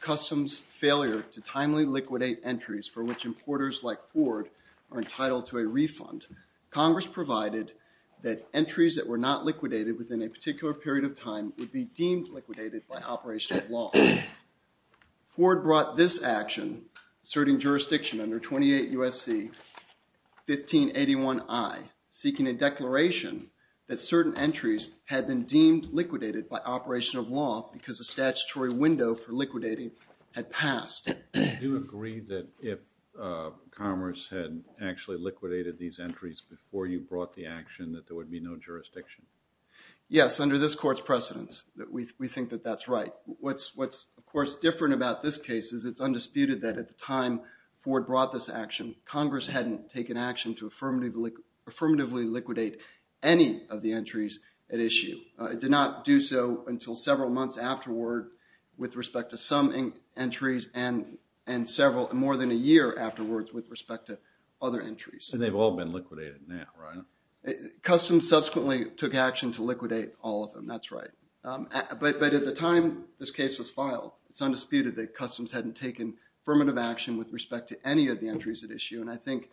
Customs Failure To Timely Liquidate Entries For Which Importers Like Ford Are Entitled To A Refund, Congress Provided That Entries That Were Not Liquidated Within A Particular Period Of Time Would Be Deemed Liquidated By Operation Of Law. Ford Brought This Action, Asserting Jurisdiction Under 28 U.S.C. 1581 I, Seeking A Declaration That Certain Entries Had Been Deemed Liquidated By Operation Of Law Because A Statutory Window For Liquidating Had Passed. Do you agree that if Commerce Had Actually Liquidated These Entries Before You Brought The Action That There Would Be No Jurisdiction? Yes, Under This Court's Precedence, We Think That That's Right. What's Of Course Different About This Case Is It's Undisputed That At The Time Ford Brought This Action, Congress Hadn't Taken Action To Affirmatively Liquidate Any Of The Entries At Issue. It Did Not Do So Until Several Months Afterward With Respect To Some Entries And Several, More Than A Year Afterwards With Respect To Other Entries. And They've All Been Liquidated Now, Right? Customs Subsequently Took Action To Liquidate All Of Them, That's Right. But At The Time This Case Was Filed, It's Undisputed That Customs Hadn't Taken Affirmative Action With Respect To Any Of The Entries At Issue. And I Think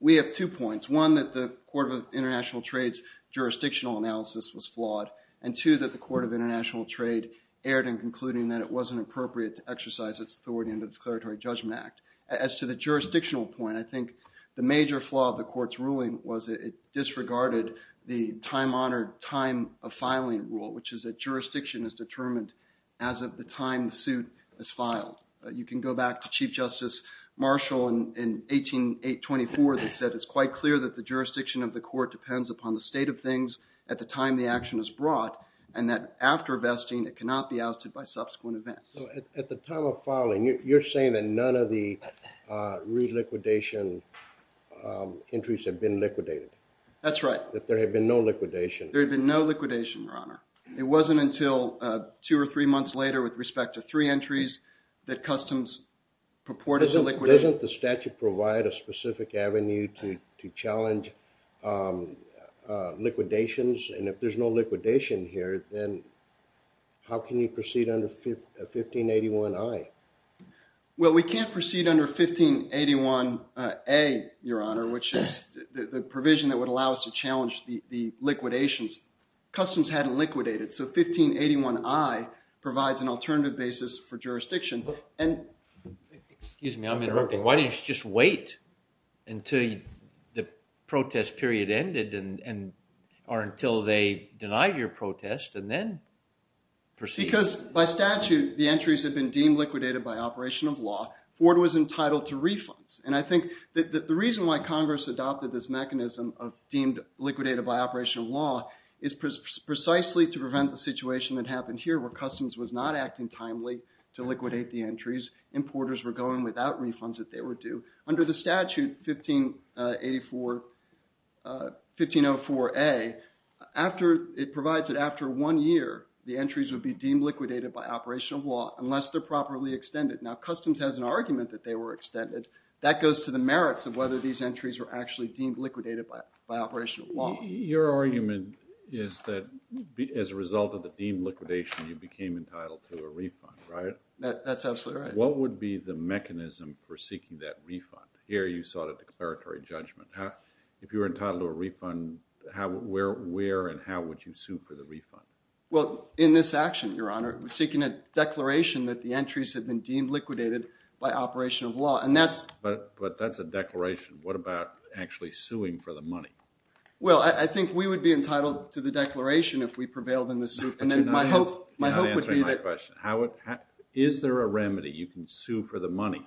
We Have Two Points. One, That The Court Of International Trade's Jurisdictional Analysis Was Flawed. And Two, That The Court Of International Trade Erred In Concluding That It Wasn't Appropriate To Exercise Its Authority Under The Declaratory Judgment Act. As To The Jurisdictional Point, I Think The Major Flaw Of The Court's Ruling Was It Disregarded The Time Honored, Time Of Filing Rule, Which Is That Jurisdiction Is Determined As Of The Time The Suit Is Filed. You Can Go Back To Chief Justice Marshall In 18824 That Said It's Quite Clear That The Jurisdiction Of The Court Depends Upon The State Of Things At The Time The Action Is Brought. And That After Vesting, It Cannot Be Ousted By Subsequent Events. At The Time Of Filing, You're Saying That None Of The Reliquidation Entries Have Been Liquidated? That's Right. That There Had Been No Liquidation? There Had Been No Liquidation, Your Honor. It Wasn't Until Two Or Three Months Later With Respect To Three Entries That Customs Purported To Liquidate. Doesn't The Statute Provide A Specific Avenue To Challenge Liquidations? And If There's No Liquidation Here, Then How Can You Proceed Under 1581 I? Well, We Can't Proceed Under 1581 A, Your Honor, Which Is The Provision That Would Allow Us To Challenge The Liquidations. Customs Hadn't Liquidated. So, 1581 I Provides An Alternative Basis For Jurisdiction. Excuse Me, I'm Interrupting. Why Don't You Just Wait Until The Protest Period Ended Or Until They Denied Your Protest And Then Proceed? Because By Statute, The Entries Have Been Deemed Liquidated By Operation Of Law. Ford Was Entitled To Refunds. And I Think That The Reason Why Congress Adopted This Mechanism Of Deemed Liquidated By Operation Of Law Is Precisely To Prevent The Situation That Happened Here Where Customs Was Not Acting Timely To Liquidate The Entries. Importers Were Going Without Refunds If They Were Due. Under The Statute, 1504 A, It Provides That After One Year, The Entries Would Be Deemed Liquidated By Operation Of Law Unless They're Properly Extended. Now, Customs Has An Argument That They Were Extended. That Goes To The Merits Of Whether These Entries Were Actually Deemed Liquidated By Operation Of Law. Your Argument Is That As A Result Of The Deemed Liquidation, You Became Entitled To A Refund, Right? That's Absolutely Right. What Would Be The Mechanism For Seeking That Refund? Here You Sought A Declaratory Judgment. If You Were Entitled To A Refund, Where And How Would You Sue For The Refund? Well, In This Action, Your Honor, We're Seeking A Declaration That The Entries Had Been Deemed Liquidated By Operation Of Law. But That's A Declaration. What About Actually Suing For The Money? Well, I Think We Would Be Entitled To The Declaration If We Prevailed In The Suit. I'm Answering My Question. Is There A Remedy You Can Sue For The Money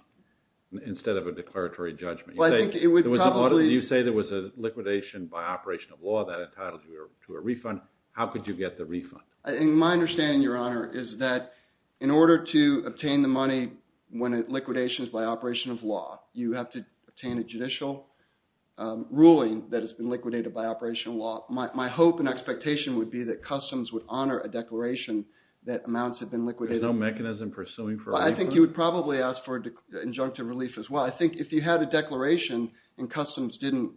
Instead Of A Declaratory Judgment? Well, I Think It Would Probably... You Say There Was A Liquidation By Operation Of Law That Entitled You To A Refund. How Could You Get The Refund? My Understanding, Your Honor, Is That In Order To Obtain The Money When It Liquidations By Operation Of Law, You Have To Obtain A Judicial Ruling That Has Been Liquidated By Operation Of Law. My Hope And Expectation Would Be That Customs Would Honor A Declaration That Amounts Have Been Liquidated. There's No Mechanism For Suing For A Refund? I Think You Would Probably Ask For Injunctive Relief As Well. I Think If You Had A Declaration And Customs Didn't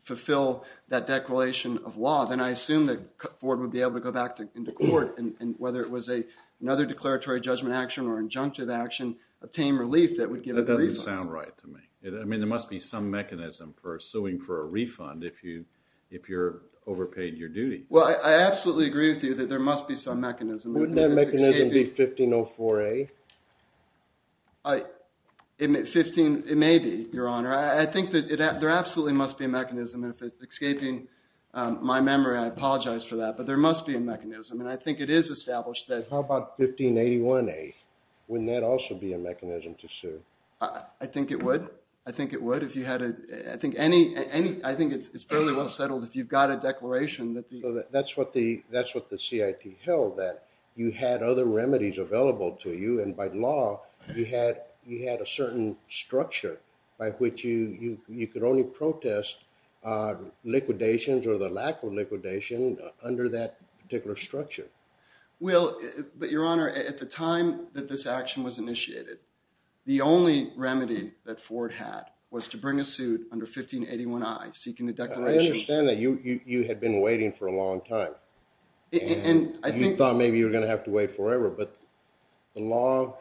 Fulfill That Declaration Of Law, Then I Assume That Ford Would Be Able To Go Back Into Court And Whether It Was Another Declaratory Judgment Action Or Injunctive Action, Obtain Relief That Would Give A Refund. That Doesn't Sound Right To Me. I Mean, There Must Be Some Mechanism For Suing For A Refund If You're Overpaid Your Duty. Well, I Absolutely Agree With You That There Must Be Some Mechanism. Wouldn't That Mechanism Be 1504A? It May Be, Your Honor. I Think That There Absolutely Must Be A Mechanism. If It's Escaping My Memory, I Apologize For That. But There Must Be A Mechanism. And I Think It Is Established That How About 1581A? Wouldn't That Also Be A Mechanism To Sue? I Think It Would. I Think It Would. I Think It's Fairly Well Settled If You've Got A Declaration That That's What The CIT Held, That You Had Other Remedies Available To You. And By Law, You Had A Certain Structure By Which You Could Only Protest Liquidations Or The Lack Of Liquidation Under That Particular Structure. Well, Your Honor, At The Time That This Action Was Initiated, The Only Remedy That Ford Had Was To Bring A Suit Under 1581I, Seeking A Declaration I Understand That You Had Been Waiting For A Long Time. And You Thought Maybe You Were Going To Have To Wait Forever. But The Law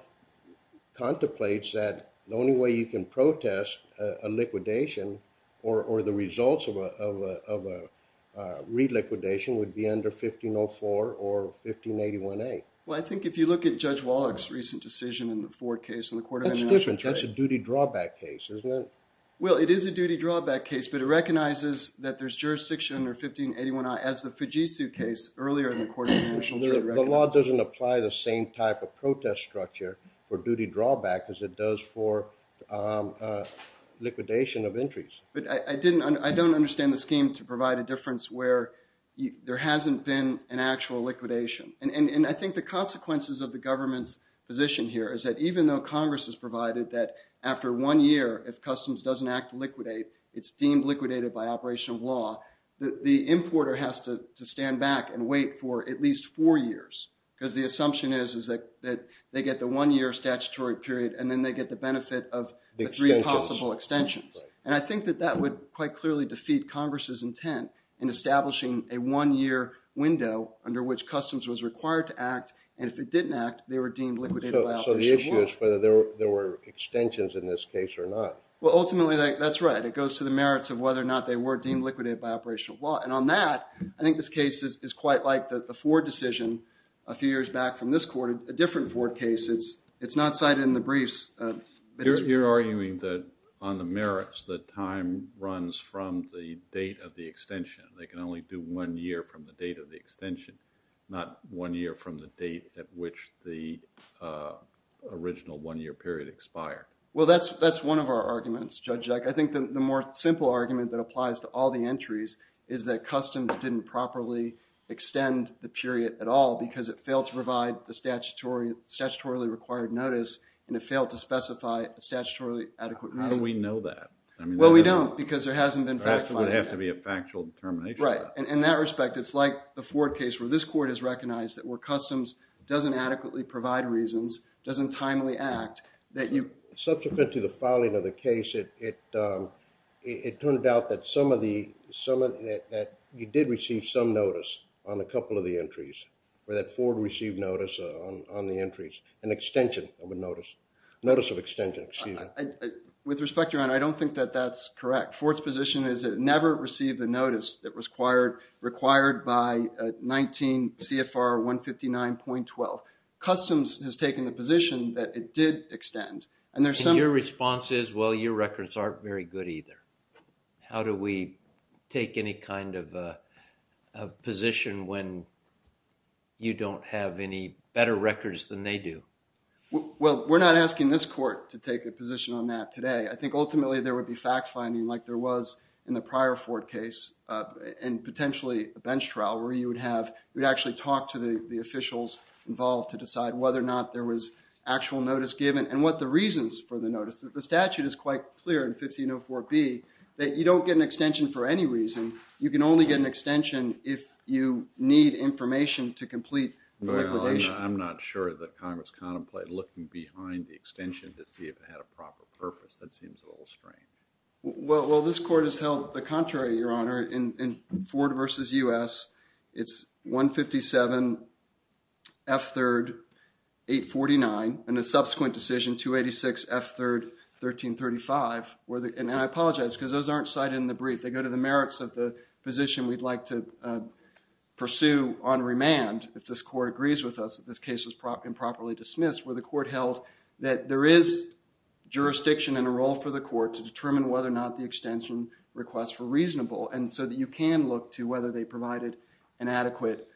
Contemplates That The Only Way You Can Protest A Liquidation Or The Results Of A Reliquidation Would Be Under 1504 Or 1581A. Well I Think If You Look At Judge Wallach's Recent Decision In The Ford Case And The Court Of Immigration That's Different. That's A Duty Drawback Case, Isn't It? Well, It Is A Duty Drawback Case. But It Recognizes That There's Jurisdiction Under 1581I As The Fujitsu Case Earlier In The Court Of Immigration. The Law Doesn't Apply The Same Type Of Protest Structure For Duty Drawback As It Does For Liquidation Of Entries. But I Don't Understand The Scheme To Provide A Difference Where There Hasn't Been An Actual Liquidation. And I Think The Consequences Of The Government's Position Here Is That Even Though Congress Has Provided That After One Year, If Customs Doesn't Act To Liquidate, It's Deemed Liquidated By Operation Of Law, The Importer Has To Stand Back And Wait For At Least Four Years. Because The Assumption Is That They Get The One Year Statutory Period And Then They Get The Benefit Of The Three Possible Extensions. And I Think That That Would Quite Clearly Defeat Congress' Intent In Establishing A One Year Window Under Which Customs Was Required To Act. And If It Didn't Act, They Were Deemed Liquidated. So The Issue Is Whether There Were Extensions In This Case Or Not. Well, Ultimately, That's Right. It Goes To The Merits Of Whether Or Not They Were Deemed Liquidated By Operation Of Law. And On That, I Think This Case Is Quite Like The Ford Decision A Few Years Back From This Court, A Different Ford Case. It's Not Cited In The Briefs. You're Arguing That On The Merits, That Time Runs From The Date Of The Extension. They Can Only Do One Year From The Date Of The Extension, Not One Year From The Date At Which The Original One Year Period Expired. Well, That's One Of Our Arguments, Judge. I Think The More Simple Argument That Applies To All The Entries Is That Customs Didn't Properly Extend The Period At All Because It Failed To Provide The Statutory Required Notice And It Failed To Specify A Statutory Adequate Reason. How Do We Know That? Well, We Don't Because There Hasn't Been Factified. It Would Have To Be A Factual Determination. Right. In That Respect, It's Like The Ford Case Where This Court Has Recognized That Customs Doesn't Adequately Provide Reasons, Doesn't Timely Act. Subsequent To The Filing Of The Case, It Turned Out That You Did Receive Some Notice On A Couple Of The Entries, Or That Ford Received Notice On The Entries, An Extension Of A Notice, Notice Of Extension. With Respect, Your Honor, I Don't Think That That's Correct. Ford's Position Is It Never Received A Notice That Was Required By 19 CFR 159.12. Customs Has Taken The Position That It Did Extend. And Your Response Is, Well, Your Records Aren't Very Good Either. How Do We Take Any Kind Of Position When You Don't Have Any Better Records Than They Do? Well, We're Not Asking This Court To Take A Position On That Today. I Think Ultimately There Would Be Fact Finding Like There Was In The Prior Ford Case. And Potentially, A Bench Trial Where You Would Have, You Would Actually Talk To The Officials Involved To Decide Whether Or Not There Was Actual Notice Given. And What The Reasons For The Notice, The Statute Is Quite Clear In 1504B That You Don't Get An Extension For Any Reason. You Can Only Get An Extension If You Need Information To Complete Liquidation. I'm Not Sure That Congress Contemplated Looking Behind The Extension To See If It Strained. Well, This Court Has Held The Contrary, Your Honor. In Ford Versus U.S., It's 157 F3 849. And The Subsequent Decision 286 F3 1335. And I Apologize Because Those Aren't Cited In The Brief. They Go To The Merits Of The Position We'd Like To Pursue On Remand. If This Court Agrees With Us That This Case Was Improperly Dismissed. The Court Held That There Is Jurisdiction And A Role For The Court To Determine Whether Or Not The Extension Requests Were Reasonable. And So That You Can Look To Whether They Provided An Adequate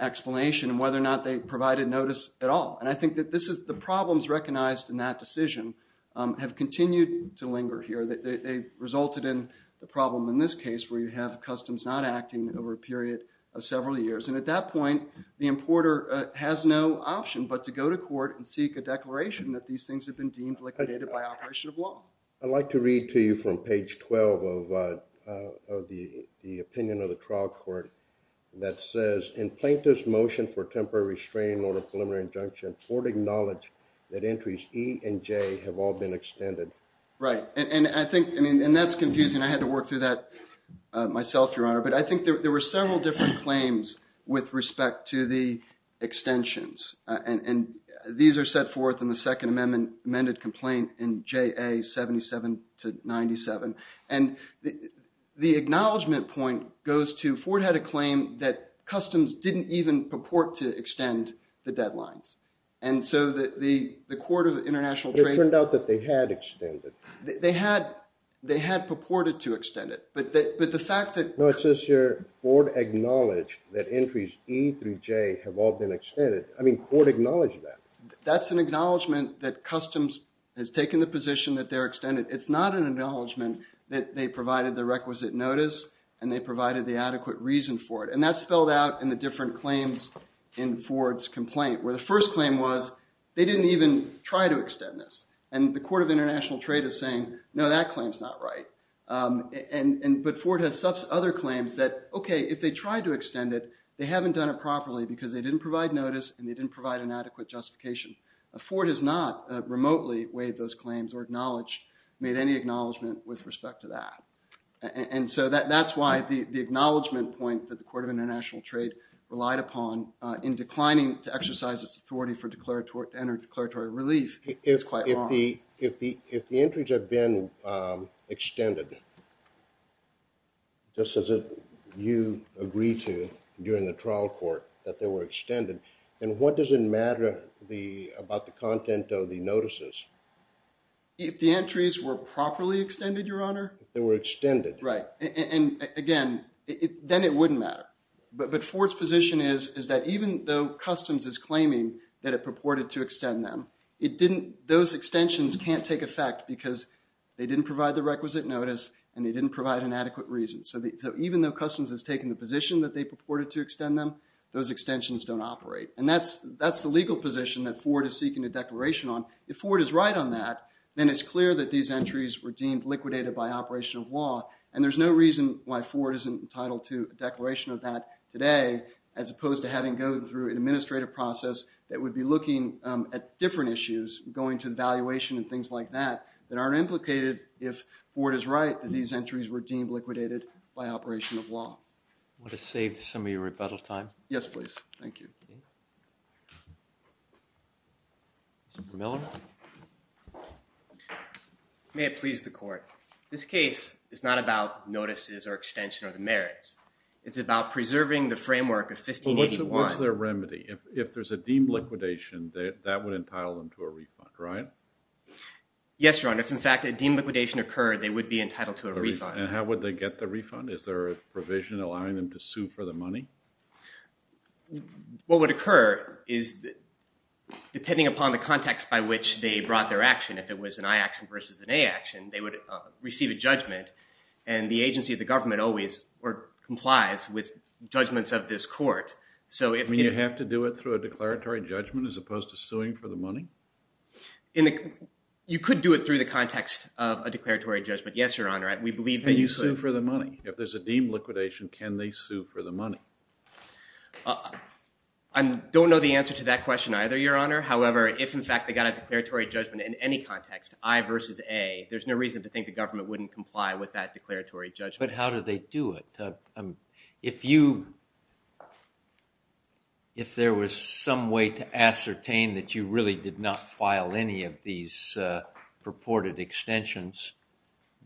Explanation And Whether Or Not They Provided Notice At All. And I Think That This Is The Problems Recognized In That Decision Have Continued To Linger Here. They Resulted In The Problem In This Case Where You Have Customs Not Acting Over A Period Of Several Years. And At That Point, The Importer Has No Option But To Go To Court And Seek A Declaration That These Things Have Been Deemed Liquidated By Operation Of Law. I'd Like To Read To You From Page 12 Of The Opinion Of The Trial Court That Says In Plaintiff's Motion For Temporary Restraining Order Preliminary Injunction, Ford Acknowledged That Entries E And J Have All Been Extended. Right. And I Think And That's Confusing. I Had To Work Through That Myself, Your Honor. But I Think There Were Several Different Claims With Respect To The Extensions And These Are Set Forth In The Second Amendment Amended Complaint In J.A. 77 To 97. And The Acknowledgement Point Goes To Ford Had A Claim That Customs Didn't Even Purport To Extend The Deadlines. And So That The Court Of International Trade Turned Out That They Had Extended. They Had They Had Purported To Extend It. But The Fact That. No, It Says Here, Ford Acknowledged That Entries E Through J Have All Been Extended. I Mean, Ford Acknowledged That. That's An Acknowledgement That Customs Has Taken The Position That They're Extended. It's Not An Acknowledgement That They Provided The Requisite Notice And They Provided The Adequate Reason For It. And That's Spelled Out In The Different Claims In Ford's Complaint. Where The First Claim Was They Didn't Even Try To Extend This. And The Court Of International Trade Is Saying, No, That Claim Is Not Right. And But Ford Has Such Other Claims That, Okay, If They Tried To Extend It, They Haven't Done It Properly Because They Didn't Provide Notice And They Didn't Provide An Adequate Justification. Ford Has Not Remotely Waived Those Claims Or Acknowledged Made Any Acknowledgement With Respect To That. And So That That's Why The Acknowledgement Point That The Court Of International Trade Relied Upon In Declining To Exercise Its Authority For Declared To Enter Declaratory Relief. It's Quite Wrong. If The Entries Have Been Extended, Just As You Agree To During The Trial Court, That They Were Extended. And What Does It Matter About The Content Of The Notices? If The Entries Were Properly Extended, Your Honor? They Were Extended. Right. And Again, Then It Wouldn't Matter. But Ford's Position Is That Even Though Customs Is Claiming That It Purported To Extend Them, Those Extensions Can't Take Effect Because They Didn't Provide The Requisite Notice And They Didn't Provide An Adequate Reason. So Even Though Customs Has Taken The Position That They Purported To Extend Them, Those Extensions Don't Operate. And That's The Legal Position That Ford Is Seeking A Declaration On. If Ford Is Right On That, Then It's Clear That These Entries Were Deemed Liquidated By Operation Of Law. And There's No Reason Why Ford Isn't Entitled To A Declaration Of That Today As Opposed To Having Go Through An Administrative Process That Would Be Looking At Different Issues, Going To The Valuation And Things Like That, That Aren't Implicated If Ford Is Right That These Entries Were Deemed Liquidated By Operation Of Law. Want To Save Some Of Your Rebuttal Time? Yes, Please. Thank You. Mr. Miller? May It Please The Court. This Case Is Not About Notices Or Extension Or The Merits. It's About Preserving The Framework Of 1581. What's Their Remedy? If There's A Deemed Liquidation, That Would Entitle Them To A Refund, Right? Yes, Your Honor. If In Fact A Deemed Liquidation Occurred, They Would Be Entitled To A Refund. And How Would They Get The Refund? Is There A Provision Allowing Them To Sue For The Money? What Would Occur Is, Depending Upon The Context By Which They Brought Their Action, If It Was An I Action Versus An A Action, They Would Receive A Judgment. And The Agency Of The Government Always Complies With Judgments Of This Court. So If You Have To Do It Through A Declaratory Judgment As Opposed To Suing For The Money? You Could Do It Through The Context Of A Declaratory Judgment. Yes, Your Honor. We Believe That You Sue For The Money. If There's A Deemed Liquidation, Can They Sue For The Money? I Don't Know The Answer To That Question Either, Your Honor. However, If In Fact They Got A Declaratory Judgment In Any Context, I Versus A, There's No Reason To Think The Government Wouldn't Comply With That Declaratory Judgment. But How Do They Do It? If There Was Some Way To Ascertain That You Really Did Not File Any Of These Purported Extensions,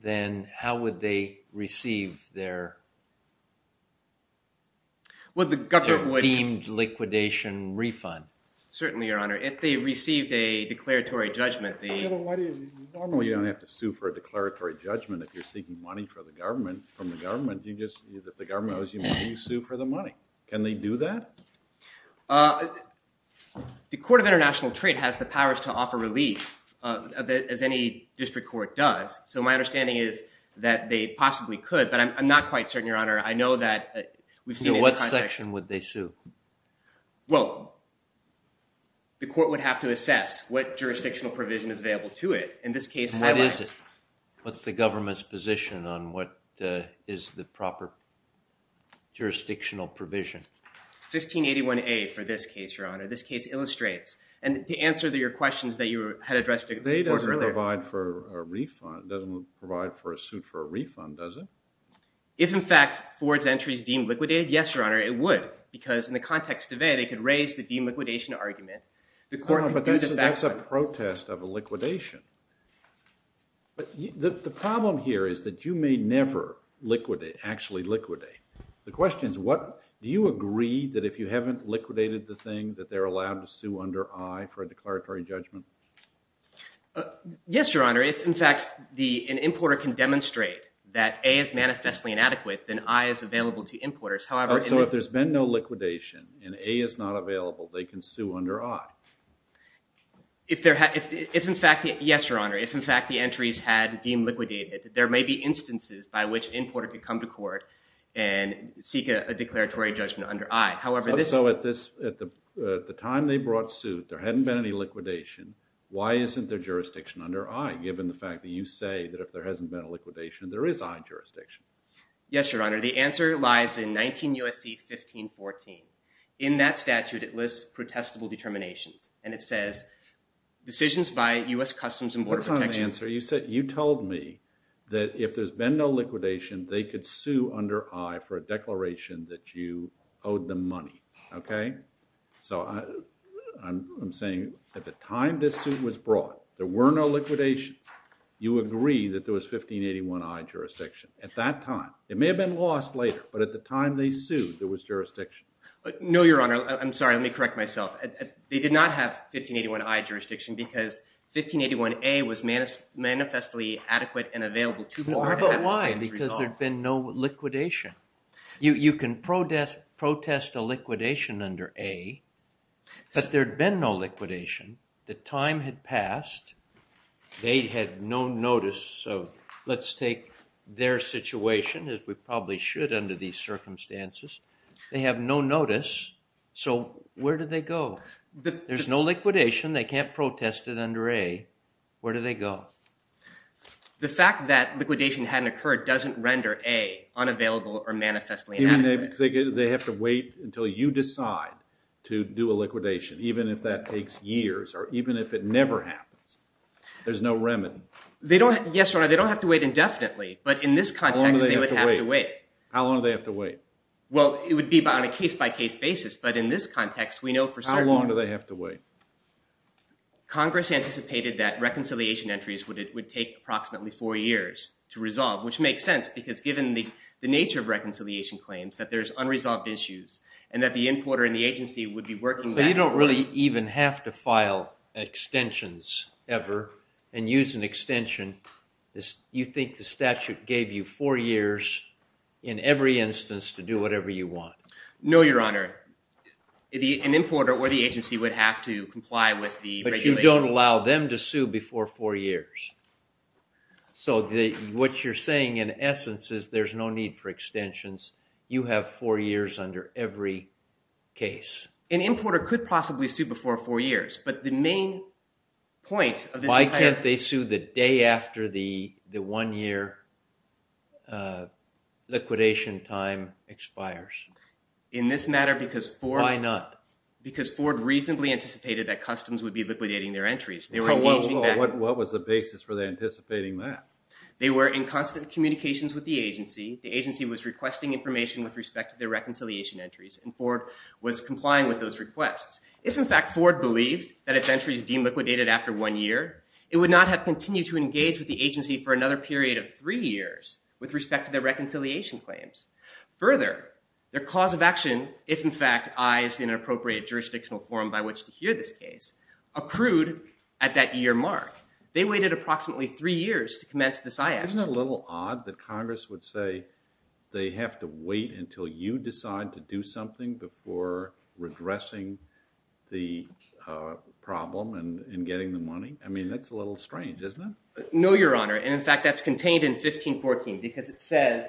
Then How Would They Receive Their Certainly, Your Honor. If They Received A Declaratory Judgment. Normally, You Don't Have To Sue For A Declaratory Judgment. If You're Seeking Money From The Government, You Just, If The Government Owes You Money, You Sue For The Money. Can They Do That? The Court Of International Trade Has The Powers To Offer Relief As Any District Court Does. So My Understanding Is That They Possibly Could. But I'm Not Quite Certain, Your Honor. I Know That We've Seen In The Context. So What Section Would They Sue? Well, The Court Would Have To Assess What Jurisdictional Provision Is Available To It. And This Case Highlights. And What Is It? What's The Government's Position On What Is The Proper Jurisdictional Provision? 1581A For This Case, Your Honor. This Case Illustrates. And To Answer Your Questions That You Had Addressed Earlier. They Don't Provide For A Refund. Doesn't Provide For A Suit For A Refund, Does It? If In Fact, Ford's Entries Deemed Liquidated, Yes, Your Honor, It Would. Because In The Context Of A, They Could Raise The Deemed Liquidation Argument. The Court. But That's A Protest Of A Liquidation. But The Problem Here Is That You May Never Actually Liquidate. The Question Is What? Do You Agree That If You Haven't Liquidated The Thing, That They're Allowed To Sue Under I For A Declaratory Judgment? Yes, Your Honor. If In Fact, An Importer Can Demonstrate That A Is Manifestly Inadequate, Then I Is Available To Importers. So If There's Been No Liquidation, And A Is Not Available, They Can Sue Under I? Yes, Your Honor. If In Fact, The Entries Had Deemed Liquidated, There May Be Instances By Which An Importer Could Come To Court And Seek A Declaratory Judgment Under I. At The Time They Brought Suit, There Hadn't Been Any Liquidation. Why Isn't There Jurisdiction Under I? Given The Fact That You Say That If There Hasn't Been A Liquidation, There Is I Jurisdiction. Yes, Your Honor. The Answer Lies In 19 U.S.C. 1514. In That Statute, It Lists Protestable Determinations. And It Says, Decisions By U.S. Customs And Border Protection. You Said, You Told Me That If There's Been No Liquidation, They Could Sue Under I For A Declaration That You Owed Them Money. Okay? So I'm Saying, At The Time This Suit Was Brought, There Were No Liquidations. You Agree That There Was 1581 I Jurisdiction. At That Time. It May Have Been Lost Later. But At The Time They Sued, There Was Jurisdiction. No, Your Honor. I'm Sorry. Let Me Correct Myself. They Did Not Have 1581 I Jurisdiction. Because 1581 A Was Manifestly Adequate And Available Too Far. How About Why? Because There Had Been No Liquidation. You Can Protest A Liquidation Under A. But There Had Been No Liquidation. The Time Had Passed. They Had No Notice Of. Let's Take Their Situation As We Probably Should Under These Circumstances. They Have No Notice. So Where Do They Go? There's No Liquidation. They Can't Protest It Under A. Where Do They Go? The Fact That Liquidation Hadn't Occurred Doesn't Render A Unavailable Or Manifestly Adequate. They Have To Wait Until You Decide To Do A Liquidation. Even If That Takes Years. Or Even If It Never Happens. There's No Remedy. Yes, Your Honor. They Don't Have To Wait Indefinitely. But In This Context, They Would Have To Wait. How Long Do They Have To Wait? Well, It Would Be On A Case-By-Case Basis. But In This Context, We Know For Certain. How Long Do They Have To Wait? Congress Anticipated That Reconciliation Entries Would Take Approximately Four Years To Resolve. Which Makes Sense. Because Given The Nature Of Reconciliation Claims. That There's Unresolved Issues. And That The Importer And The Agency Would Be Working. So You Don't Really Even Have To File Extensions Ever. And Use An Extension. You Think The Statute Gave You Four Years In Every Instance To Do Whatever You Want. No, Your Honor. An Importer Or The Agency Would Have To Comply With The Regulations. But You Don't Allow Them To Sue Before Four Years. So What You're Saying In Essence Is There's No Need For Extensions. You Have Four Years Under Every Case. An Importer Could Possibly Sue Before Four Years. But The Main Point Of This. Why Can't They Sue The Day After The One Year Liquidation Time Expires? In This Matter Because Ford. Why Not? Because Ford Reasonably Anticipated That Customs Would Be Liquidating Their Entries. What Was The Basis For Anticipating That? They Were In Constant Communications With The Agency. The Agency Was Requesting Information With Respect To Their Reconciliation Entries. And Ford Was Complying With Those Requests. If In Fact Ford Believed That Its Entries Deemed Liquidated After One Year. It Would Not Have Continued To Engage With The Agency For Another Period Of Three Years With Respect To Their Reconciliation Claims. Further. Their Cause Of Action. If In Fact Ayes In An Appropriate Jurisdictional Form By Which To Hear This Case. Accrued At That Year Mark. They Waited Approximately Three Years To Commence This Ayes. Isn't It A Little Odd That Congress Would Say. They Have To Wait Until You Decide To Do Something. Before Redressing The Problem. And Getting The Money. I Mean That's A Little Strange. Isn't It? No Your Honor. And In Fact That's Contained In 1514. Because It Says.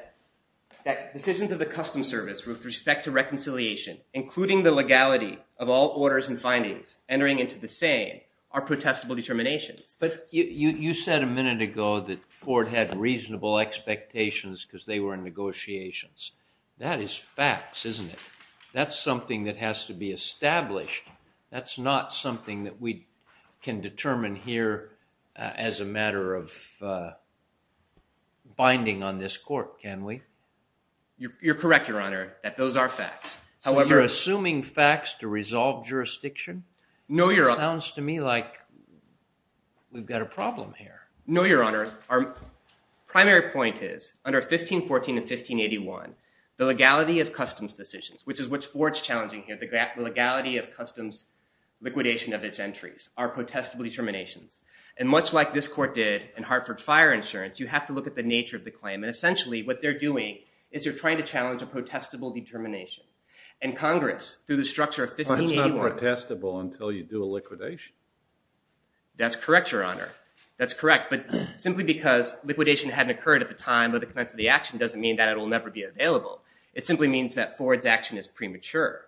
That Decisions Of The Customs Service With Respect To Reconciliation. Including The Legality Of All Orders And Findings. Entering Into The Same. Are Protestable Determinations. But You Said A Minute Ago That Ford Had Reasonable Expectations. Because They Were In Negotiations. That Is Facts. Isn't It? That's Something That Has To Be Established. That's Not Something That We Can Determine Here. As A Matter Of Binding On This Court. Can We? You're Correct Your Honor. That Those Are Facts. However. You're Assuming Facts To Resolve Jurisdiction? No Your Honor. Sounds To Me Like. We've Got A Problem Here. No Your Honor. Our Primary Point Is. Under 1514 And 1581. The Legality Of Customs Decisions. Which Is What Ford Is Challenging Here. The Legality Of Customs Liquidation Of Its Entries. Are Protestable Determinations. And Much Like This Court Did. In Hartford Fire Insurance. You Have To Look At The Nature Of The Claim. And Essentially What They're Doing. Is They're Trying To Challenge A Protestable Determination. And Congress. Through The Structure Of 1581. But It's Not Protestable Until You Do A Liquidation. That's Correct Your Honor. That's Correct. But Simply Because Liquidation Hadn't Occurred At The Time. Of The Commencement Of The Action. Doesn't Mean That It Will Never Be Available. It Simply Means That Ford's Action Is Premature.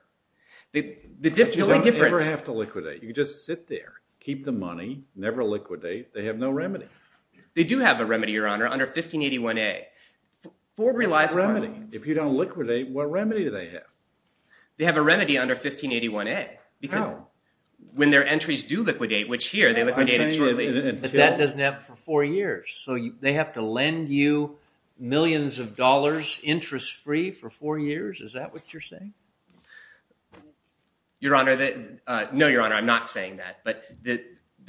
The Difficult Difference. You Don't Ever Have To Liquidate. You Just Sit There. Keep The Money. Never Liquidate. They Have No Remedy. They Do Have A Remedy Your Honor. Under 1581 A. Ford Realized. Remedy. If You Don't Liquidate. What Remedy Do They Have? They Have A Remedy Under 1581 A. How? When Their Entries Do Liquidate. Which Here. They Liquidated Shortly. But That Doesn't Happen For Four Years. So They Have To Lend You Millions Of Dollars. Interest Free For Four Years. Is That What You're Saying? Your Honor. No Your Honor. I'm Not Saying That. But The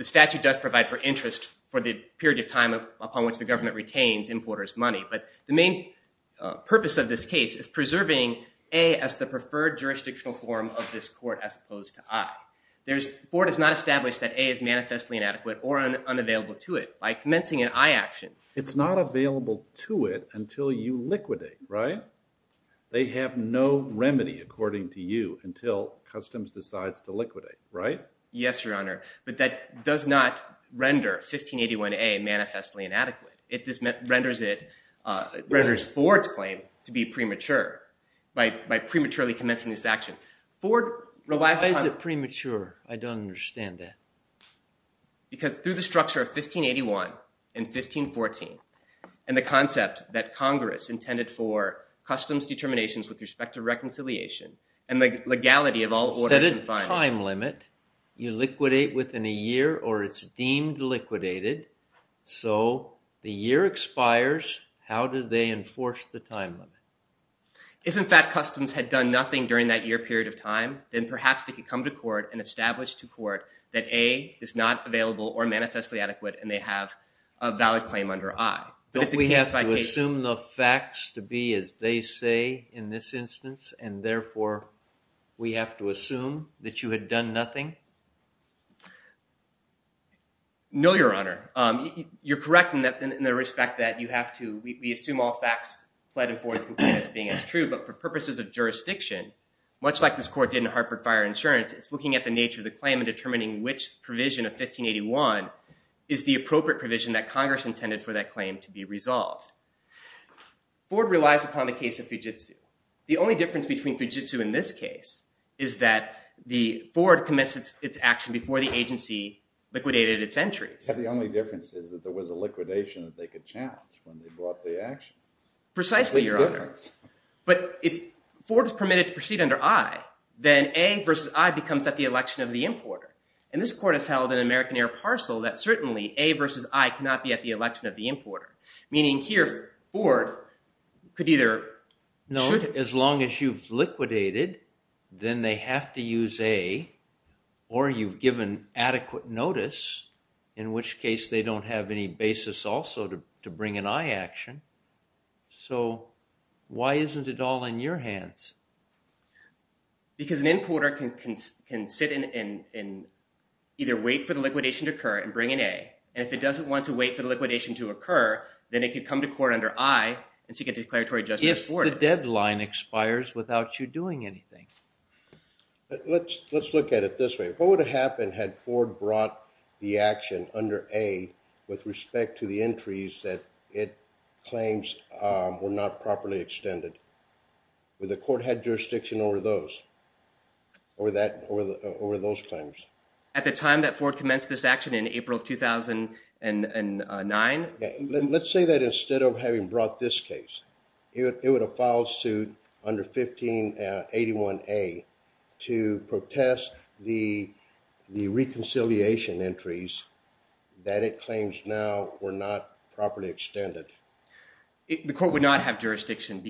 Statute Does Provide For Interest. For The Period Of Time. Upon Which The Government Retains Importers Money. But The Main Purpose Of This Case. Is Preserving A. As The Preferred Jurisdictional Form Of This Court. As Opposed To I. There Is. Ford Has Not Established That A. Is Manifestly Inadequate. Or Unavailable To It. By Commencing An I Action. It's Not Available To It. Until You Liquidate. Right? They Have No Remedy. According To You. Until Customs Decides To Liquidate. Right? Yes Your Honor. But That Does Not Render 1581 A. Manifestly Inadequate. It Renders It. Renders Ford's Claim. To Be Premature. By Prematurely Commencing This Action. Ford. Why Is It Premature? I Don't Understand That. Because. Through The Structure Of 1581. And 1514. And The Concept. That Congress Intended For. Customs Determinations With Respect To Reconciliation. And The Legality Of All Orders And Fines. You Set A Time Limit. You Liquidate Within A Year. Or It's Deemed Liquidated. So. The Year Expires. How Do They Enforce The Time Limit? If In Fact Customs Had Done Nothing During That Year Period Of Time. Then Perhaps They Could Come To Court. And Establish To Court. That A. Is Not Available. Or Manifestly Adequate. And They Have. A Valid Claim Under I. Don't We Have To Assume The Facts. To Be As They Say. In This Instance. And Therefore. We Have To Assume. That You Had Done Nothing? No Your Honor. You're Correct In The Respect That. You Have To. We Assume All Facts. Pled And Forward As Being As True. But For Purposes Of Jurisdiction. Much Like This Court Did In Hartford Fire Insurance. It's Looking At The Nature Of The Claim. And Determining Which Provision Of 1581. Is The Appropriate Provision. That Congress Intended For That Claim. To Be Resolved. Ford Relies Upon The Case Of Fujitsu. The Only Difference Between Fujitsu. In This Case. Is That. The Ford Commits Its Action. Before The Agency. Liquidated Its Entries. The Only Difference Is. That There Was A Liquidation. That They Could Challenge. When They Brought The Action. Precisely Your Honor. But If. Ford Is Permitted To Proceed Under I. Then A Versus I. Becomes At The Election Of The Importer. And This Court Has Held. An American Air Parcel. That Certainly. A Versus I. Cannot Be At The Election Of The Importer. Meaning Here. Ford. Could Either. No. As Long As You've Liquidated. Then They Have To Use A. Or You've Given Adequate Notice. In Which Case. They Don't Have Any Basis Also. To Bring An I Action. So. Why Isn't It All In Your Hands? Because An Importer. Can Sit In. And. Either Wait For The Liquidation To Occur. And Bring An A. And If It Doesn't Want To Wait. For The Liquidation To Occur. Then It Could Come To Court Under I. And Seek A Declaratory Judgment. If The Deadline Expires. Without You Doing Anything. Let's Look At It This Way. What Would Have Happened. Had Ford Brought. The Action Under A. With Respect To The Entries. That It Claims. Were Not Properly Extended. Would The Court Had Jurisdiction. Over Those. Over That. Over The. Over Those Claims. At The Time. That Ford Commenced This Action. In April Of 2009. Let's Say That Instead. Of Having Brought This Case. It Would Have Filed Suit. Under 1581 A. To Protest The. The Reconciliation Entries. That It Claims Now. Were Not Properly Extended. The Court Would Not Have Jurisdiction.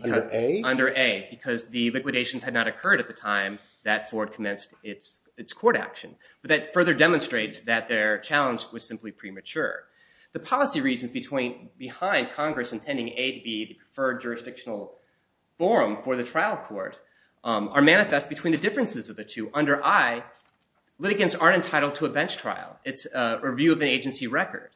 Under A. Because The Liquidations Had Not Occurred. At The Time. That Ford Commenced Its. Its Court Action. But That Further Demonstrates. That Their Challenge. Was Simply Premature. The Policy Reasons Between. Behind Congress Intending A. To Be The Preferred Jurisdictional. Forum For The Trial Court. Are Manifest Between The Differences Of The Two. Under I. Litigants Aren't Entitled To A Bench Trial. It's A Review Of The Agency Record.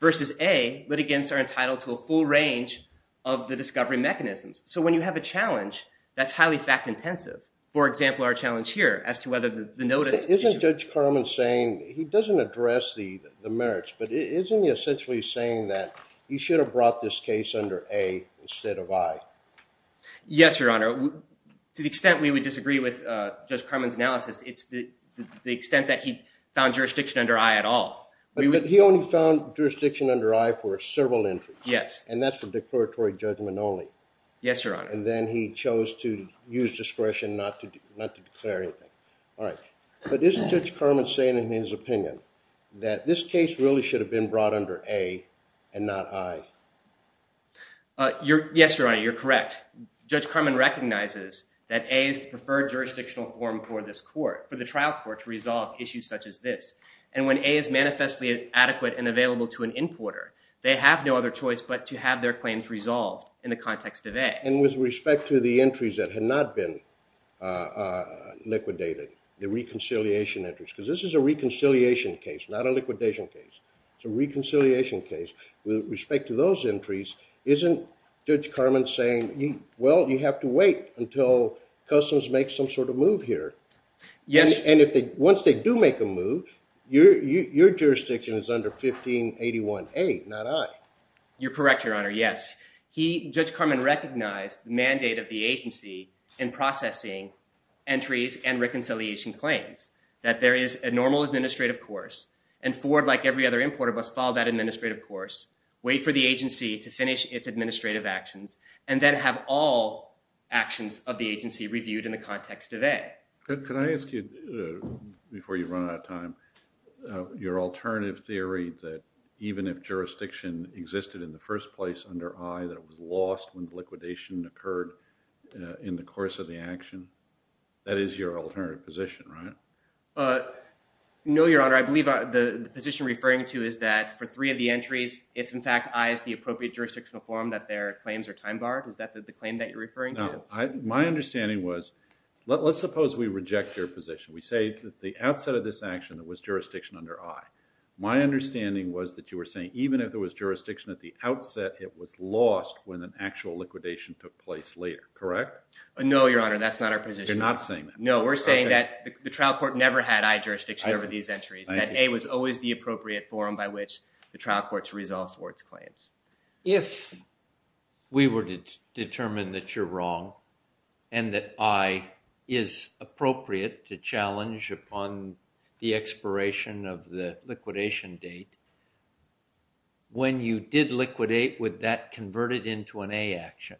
Versus A. Litigants Are Entitled To A Full Range. Of The Discovery Mechanisms. So When You Have A Challenge. That's Highly Fact Intensive. For Example. Our Challenge Here. As To Whether The Notice. Isn't Judge Carman Saying. He Doesn't Address The Merits. But Isn't He Essentially Saying That. He Should Have Brought This Case Under A. Instead Of I. Yes Your Honor. To The Extent We Would Disagree With Judge Carman's Analysis. It's The Extent That He Found Jurisdiction Under I. At All. But He Only Found Jurisdiction Under I. For Several Entries. Yes. And That's The Declaratory Judgment Only. Yes Your Honor. And Then He Chose To Use Discretion. Not To Declare Anything. All Right. But Isn't Judge Carman Saying. In His Opinion. That This Case Really Should Have Been Brought Under A. And Not I. Yes Your Honor. You're Correct. Judge Carman Recognizes. That A Is The Preferred Jurisdictional Form. For This Court. For The Trial Court. To Resolve Issues Such As This. And Available To An Importer. They Have No Other Choice. But To Have Their Claims Resolved. In The Context Of A. And With Respect To The Entries That Had Not Been. Liquidated. The Reconciliation Entries. Because This Is A Reconciliation Case. Not A Liquidation Case. It's A Reconciliation Case. With Respect To Those Entries. Isn't Judge Carman Saying. Well You Have To Wait. Until Customs Make Some Sort Of Move Here. Yes. And If They. Once They Do Make A Move. Your Jurisdiction Is Under 1581 A. Not I. You're Correct Your Honor. Yes. Judge Carman Recognized. The Mandate Of The Agency. In Processing. Entries And Reconciliation Claims. That There Is A Normal Administrative Course. And Ford Like Every Other Importer. Must Follow That Administrative Course. Wait For The Agency. To Finish Its Administrative Actions. And Then Have All. Actions Of The Agency Reviewed In The Context Of A. Can I Ask You. Before You Run Out Of Time. Your Alternative Theory That. Even If Jurisdiction Existed In The First Place. Under I. That It Was Lost When Liquidation Occurred. In The Course Of The Action. That Is Your Alternative Position Right. No Your Honor. I Believe The Position Referring To Is That. For Three Of The Entries. If In Fact I Is The Appropriate Jurisdictional Form. That Their Claims Are Time Barred. Is That The Claim That You're Referring To. My Understanding Was. Let's Suppose We Reject Your Position. We Say That The Outset Of This Action. That Was Jurisdiction Under I. My Understanding Was That You Were Saying. Even If There Was Jurisdiction At The Outset. It Was Lost When An Actual Liquidation Took Place Later. Correct. No Your Honor. That's Not Our Position. You're Not Saying That. No We're Saying That The Trial Court. Never Had I Jurisdiction Over These Entries. That A Was Always The Appropriate Form. By Which The Trial Courts Resolved For Its Claims. If. We Were Determined That You're Wrong. And That I Is Appropriate To Challenge. Upon The Expiration Of The Liquidation Date. When You Did Liquidate. Would That Converted Into An A Action.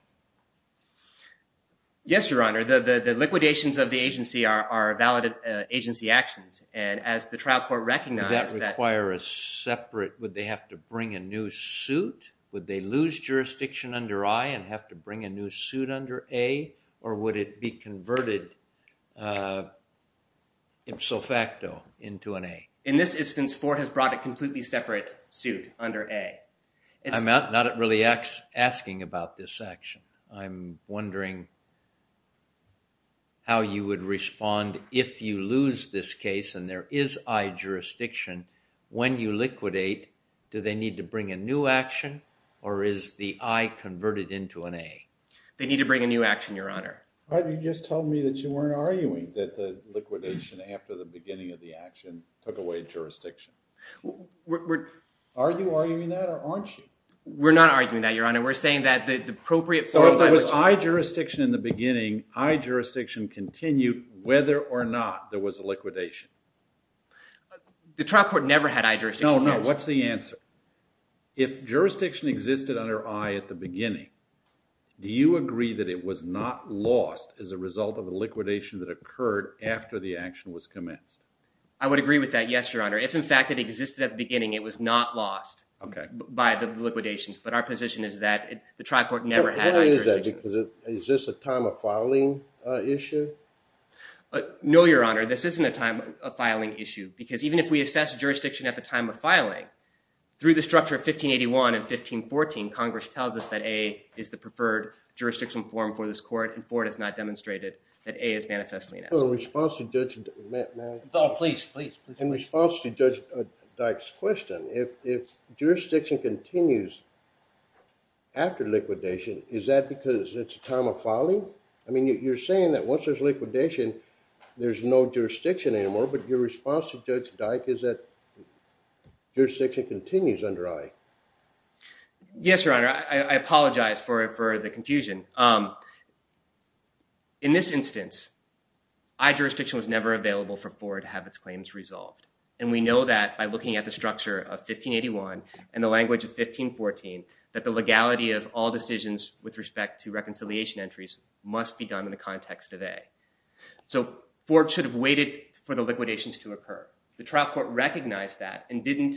Yes Your Honor. The Liquidations Of The Agency. Are Valid Agency Actions. And As The Trial Court Recognized. That Require A Separate. Would They Have To Bring A New Suit. Would They Lose Jurisdiction Under I. And Have To Bring A New Suit Under A. Or Would It Be Converted. Ipso Facto Into An A. In This Instance. Has Brought A Completely Separate Suit Under A. Not Really Asking About This Action. I'm Wondering. How You Would Respond. If You Lose This Case. And There Is I Jurisdiction. When You Liquidate. Do They Need To Bring A New Action. Or Is The I Converted Into An A. They Need To Bring A New Action. Your Honor. You Just Told Me That You Weren't Arguing. That The Liquidation. After The Beginning Of The Action. Took Away Jurisdiction. Are You Arguing That. Or Aren't You. We're Not Arguing That. Your Honor. We're Saying That The Appropriate. If There Was I Jurisdiction In The Beginning. I Jurisdiction Continued. Whether Or Not. There Was A Liquidation. The Trial Court Never Had I Jurisdiction. No, No. What's The Answer. If Jurisdiction Existed Under I. At The Beginning. Do You Agree That It Was Not Lost. As A Result Of A Liquidation That Occurred. After The Action Was Commenced. I Would Agree With That. Yes, Your Honor. If In Fact It Existed At The Beginning. It Was Not Lost. Okay. By The Liquidations. But Our Position Is That. The Trial Court Never Had I Jurisdiction. Is This A Time Of Filing Issue. No, Your Honor. This Isn't A Time Of Filing Issue. Because Even If We Assess Jurisdiction At The Time Of Filing. Through The Structure Of 1581. And 1514. Congress Tells Us That A. Is The Preferred Jurisdiction Form For This Court. And Ford Has Not Demonstrated. That A Is Manifestly. Response To Judge. Please, Please. In Response To Judge Dyke's Question. If Jurisdiction Continues. After Liquidation. Is That Because It's A Time Of Filing. I Mean You're Saying That Once There's Liquidation. There's No Jurisdiction Anymore. But Your Response To Judge Dyke Is That. Jurisdiction Continues Under Ike. Yes, Your Honor. I Apologize For The Confusion. In This Instance. I Jurisdiction Was Never Available For Ford. To Have Its Claims Resolved. And We Know That By Looking At The Structure Of 1581. And The Language Of 1514. That The Legality Of All Decisions. With Respect To Reconciliation Entries. Must Be Done In The Context Of A. So, Ford Should Have Waited. For The Liquidations To Occur. The Trial Court Recognized That. And Didn't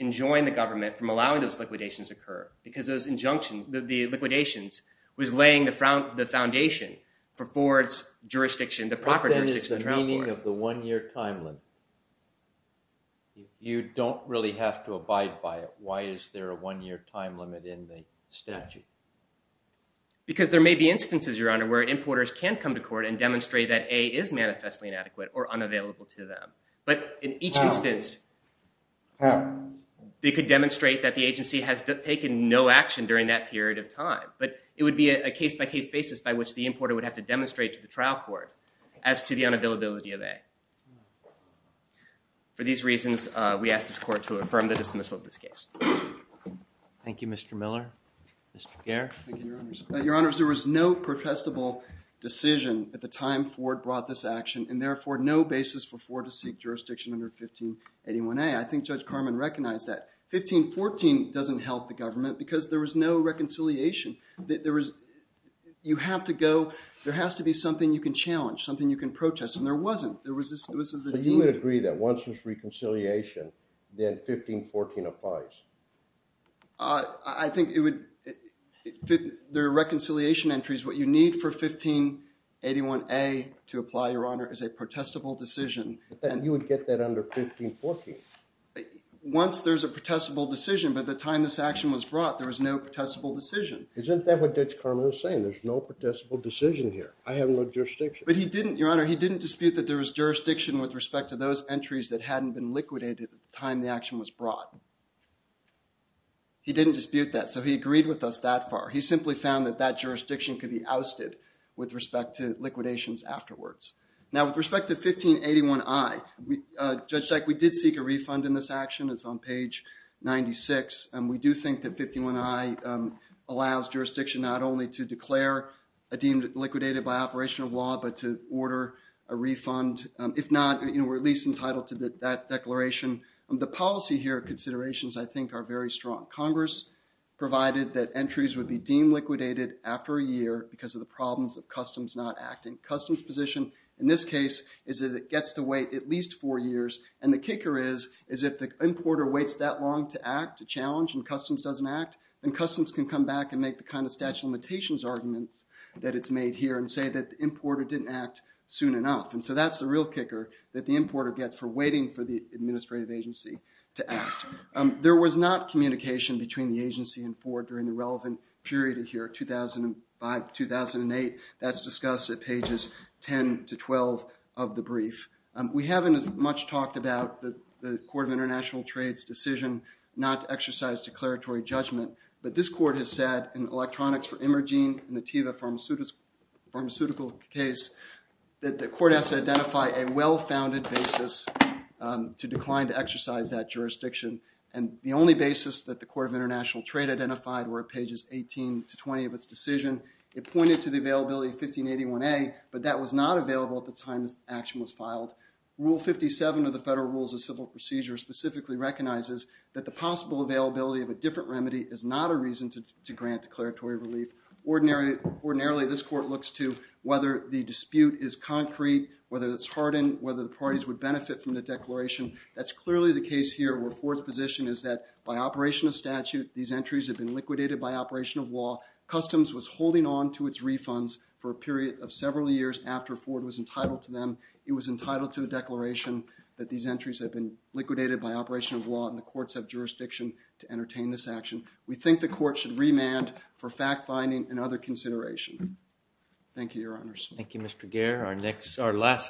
Enjoin The Government. From Allowing Those Liquidations Occur. Because Those Injunctions. The Liquidations. Was Laying The Foundation. For Ford's Jurisdiction. What Then Is The Meaning Of The One Year Time Limit? You Don't Really Have To Abide By It. Why Is There A One Year Time Limit In The Statute? Because There May Be Instances. Your Honor. Where Importers Can Come To Court. And Demonstrate That A. Is Manifestly Inadequate. Or Unavailable To Them. But In Each Instance. They Could Demonstrate That The Agency. Has Taken No Action During That Period Of Time. But It Would Be A Case By Case Basis. By Which The Importer Would Have To Demonstrate. To The Trial Court. As To The Unavailability Of A. For These Reasons. We Ask This Court To Affirm The Dismissal Of This Case. Thank You Mr. Miller. Mr. Pierre. Thank You Your Honors. Your Honors. There Was No Protestable Decision. At The Time Ford Brought This Action. And Therefore No Basis For Ford To Seek Jurisdiction Under 1581 A. I Think Judge Carman Recognized That. 1514 Doesn't Help The Government. Because There Was No Reconciliation. That There Was. You Have To Go. There Has To Be Something You Can Challenge. Something You Can Protest. And There Wasn't. There Was This. This Was A. You Would Agree That Once There Was Reconciliation. Then 1514 Applies. I Think It Would. The Reconciliation Entries. What You Need For 1581 A. To Apply Your Honor. Is A Protestable Decision. And You Would Get That Under 1514. Once There Is A Protestable Decision. By The Time This Action Was Brought. There Was No Protestable Decision. Isn't That What Judge Carman Was Saying? There Is No Protestable Decision Here. I Have No Jurisdiction. But He Didn't. Your Honor. He Didn't Dispute That There Was Jurisdiction. With Respect To Those Entries. That Hadn't Been Liquidated. At The Time The Action Was Brought. He Didn't Dispute That. So He Agreed With Us That Far. He Simply Found That That Jurisdiction Could Be Ousted. With Respect To Liquidations Afterwards. Now With Respect To 1581 I. Judge Dyke. We Did Seek A Refund In This Action. It'S On Page 96. And We Do Think That 1581 I. Allows Jurisdiction Not Only To Declare. A Deemed Liquidated By Operation Of Law. But To Order A Refund. If Not. We'Re At Least Entitled To That Declaration. The Policy Here. Considerations I Think Are Very Strong. Congress Provided That Entries Would Be Deemed Liquidated. After A Year. Because Of The Problems Of Customs Not Acting. Customs Position. In This Case. Is That It Gets To Wait At Least Four Years. And The Kicker Is. Is If The Importer Waits That Long To Act. To Challenge. And Customs Doesn't Act. And Customs Can Come Back. And Make The Kind Of Statute Of Limitations. Arguments. That It'S Made Here. And Say That The Importer Didn'T Act. Soon Enough. And So That'S The Real Kicker. That The Importer Gets. For Waiting For The Administrative Agency. To Act. There Was Not Communication Between The Agency. And Ford During The Relevant Period. Of Here. 2005. 2008. That'S Discussed At Pages. 10 To 12. Of The Brief. We Haven'T As Much Talked About. The Court Of International Trades Decision. Not To Exercise Declaratory Judgment. But This Court Has Said. In Electronics For Emerging. In The Teva Pharmaceutical Case. That The Court Has To Identify. A Well-Founded Basis. To Decline To Exercise That Jurisdiction. And The Only Basis. That The Court Of International Trade Identified. Were At Pages. 18 To 20. Of Its Decision. It Pointed To The Availability. Of 1581a. But That Was Not Available. At The Time This Action Was Filed. Rule 57. Of The Federal Rules Of Civil Procedure. Specifically Recognizes. That The Possible Availability. Of A Different Remedy. Is Not A Reason. To Grant Declaratory Relief. Ordinarily This Court Looks To. Whether The Dispute Is Concrete. Whether It'S Hardened. Whether The Parties Would Benefit. From The Declaration. That'S Clearly The Case Here. Where Ford'S Position Is That. By Operation Of Statute. These Entries Have Been Liquidated. By Operation Of Law. Customs Was Holding On To Its Refunds. For A Period Of Several Years. After Ford Was Entitled To Them. He Was Entitled To A Declaration. That These Entries Have Been Liquidated. By Operation Of Law. And The Courts Have Jurisdiction. To Entertain This Action. We Think The Court Should Remand. For Fact Finding. And Other Consideration. Thank You Your Honors.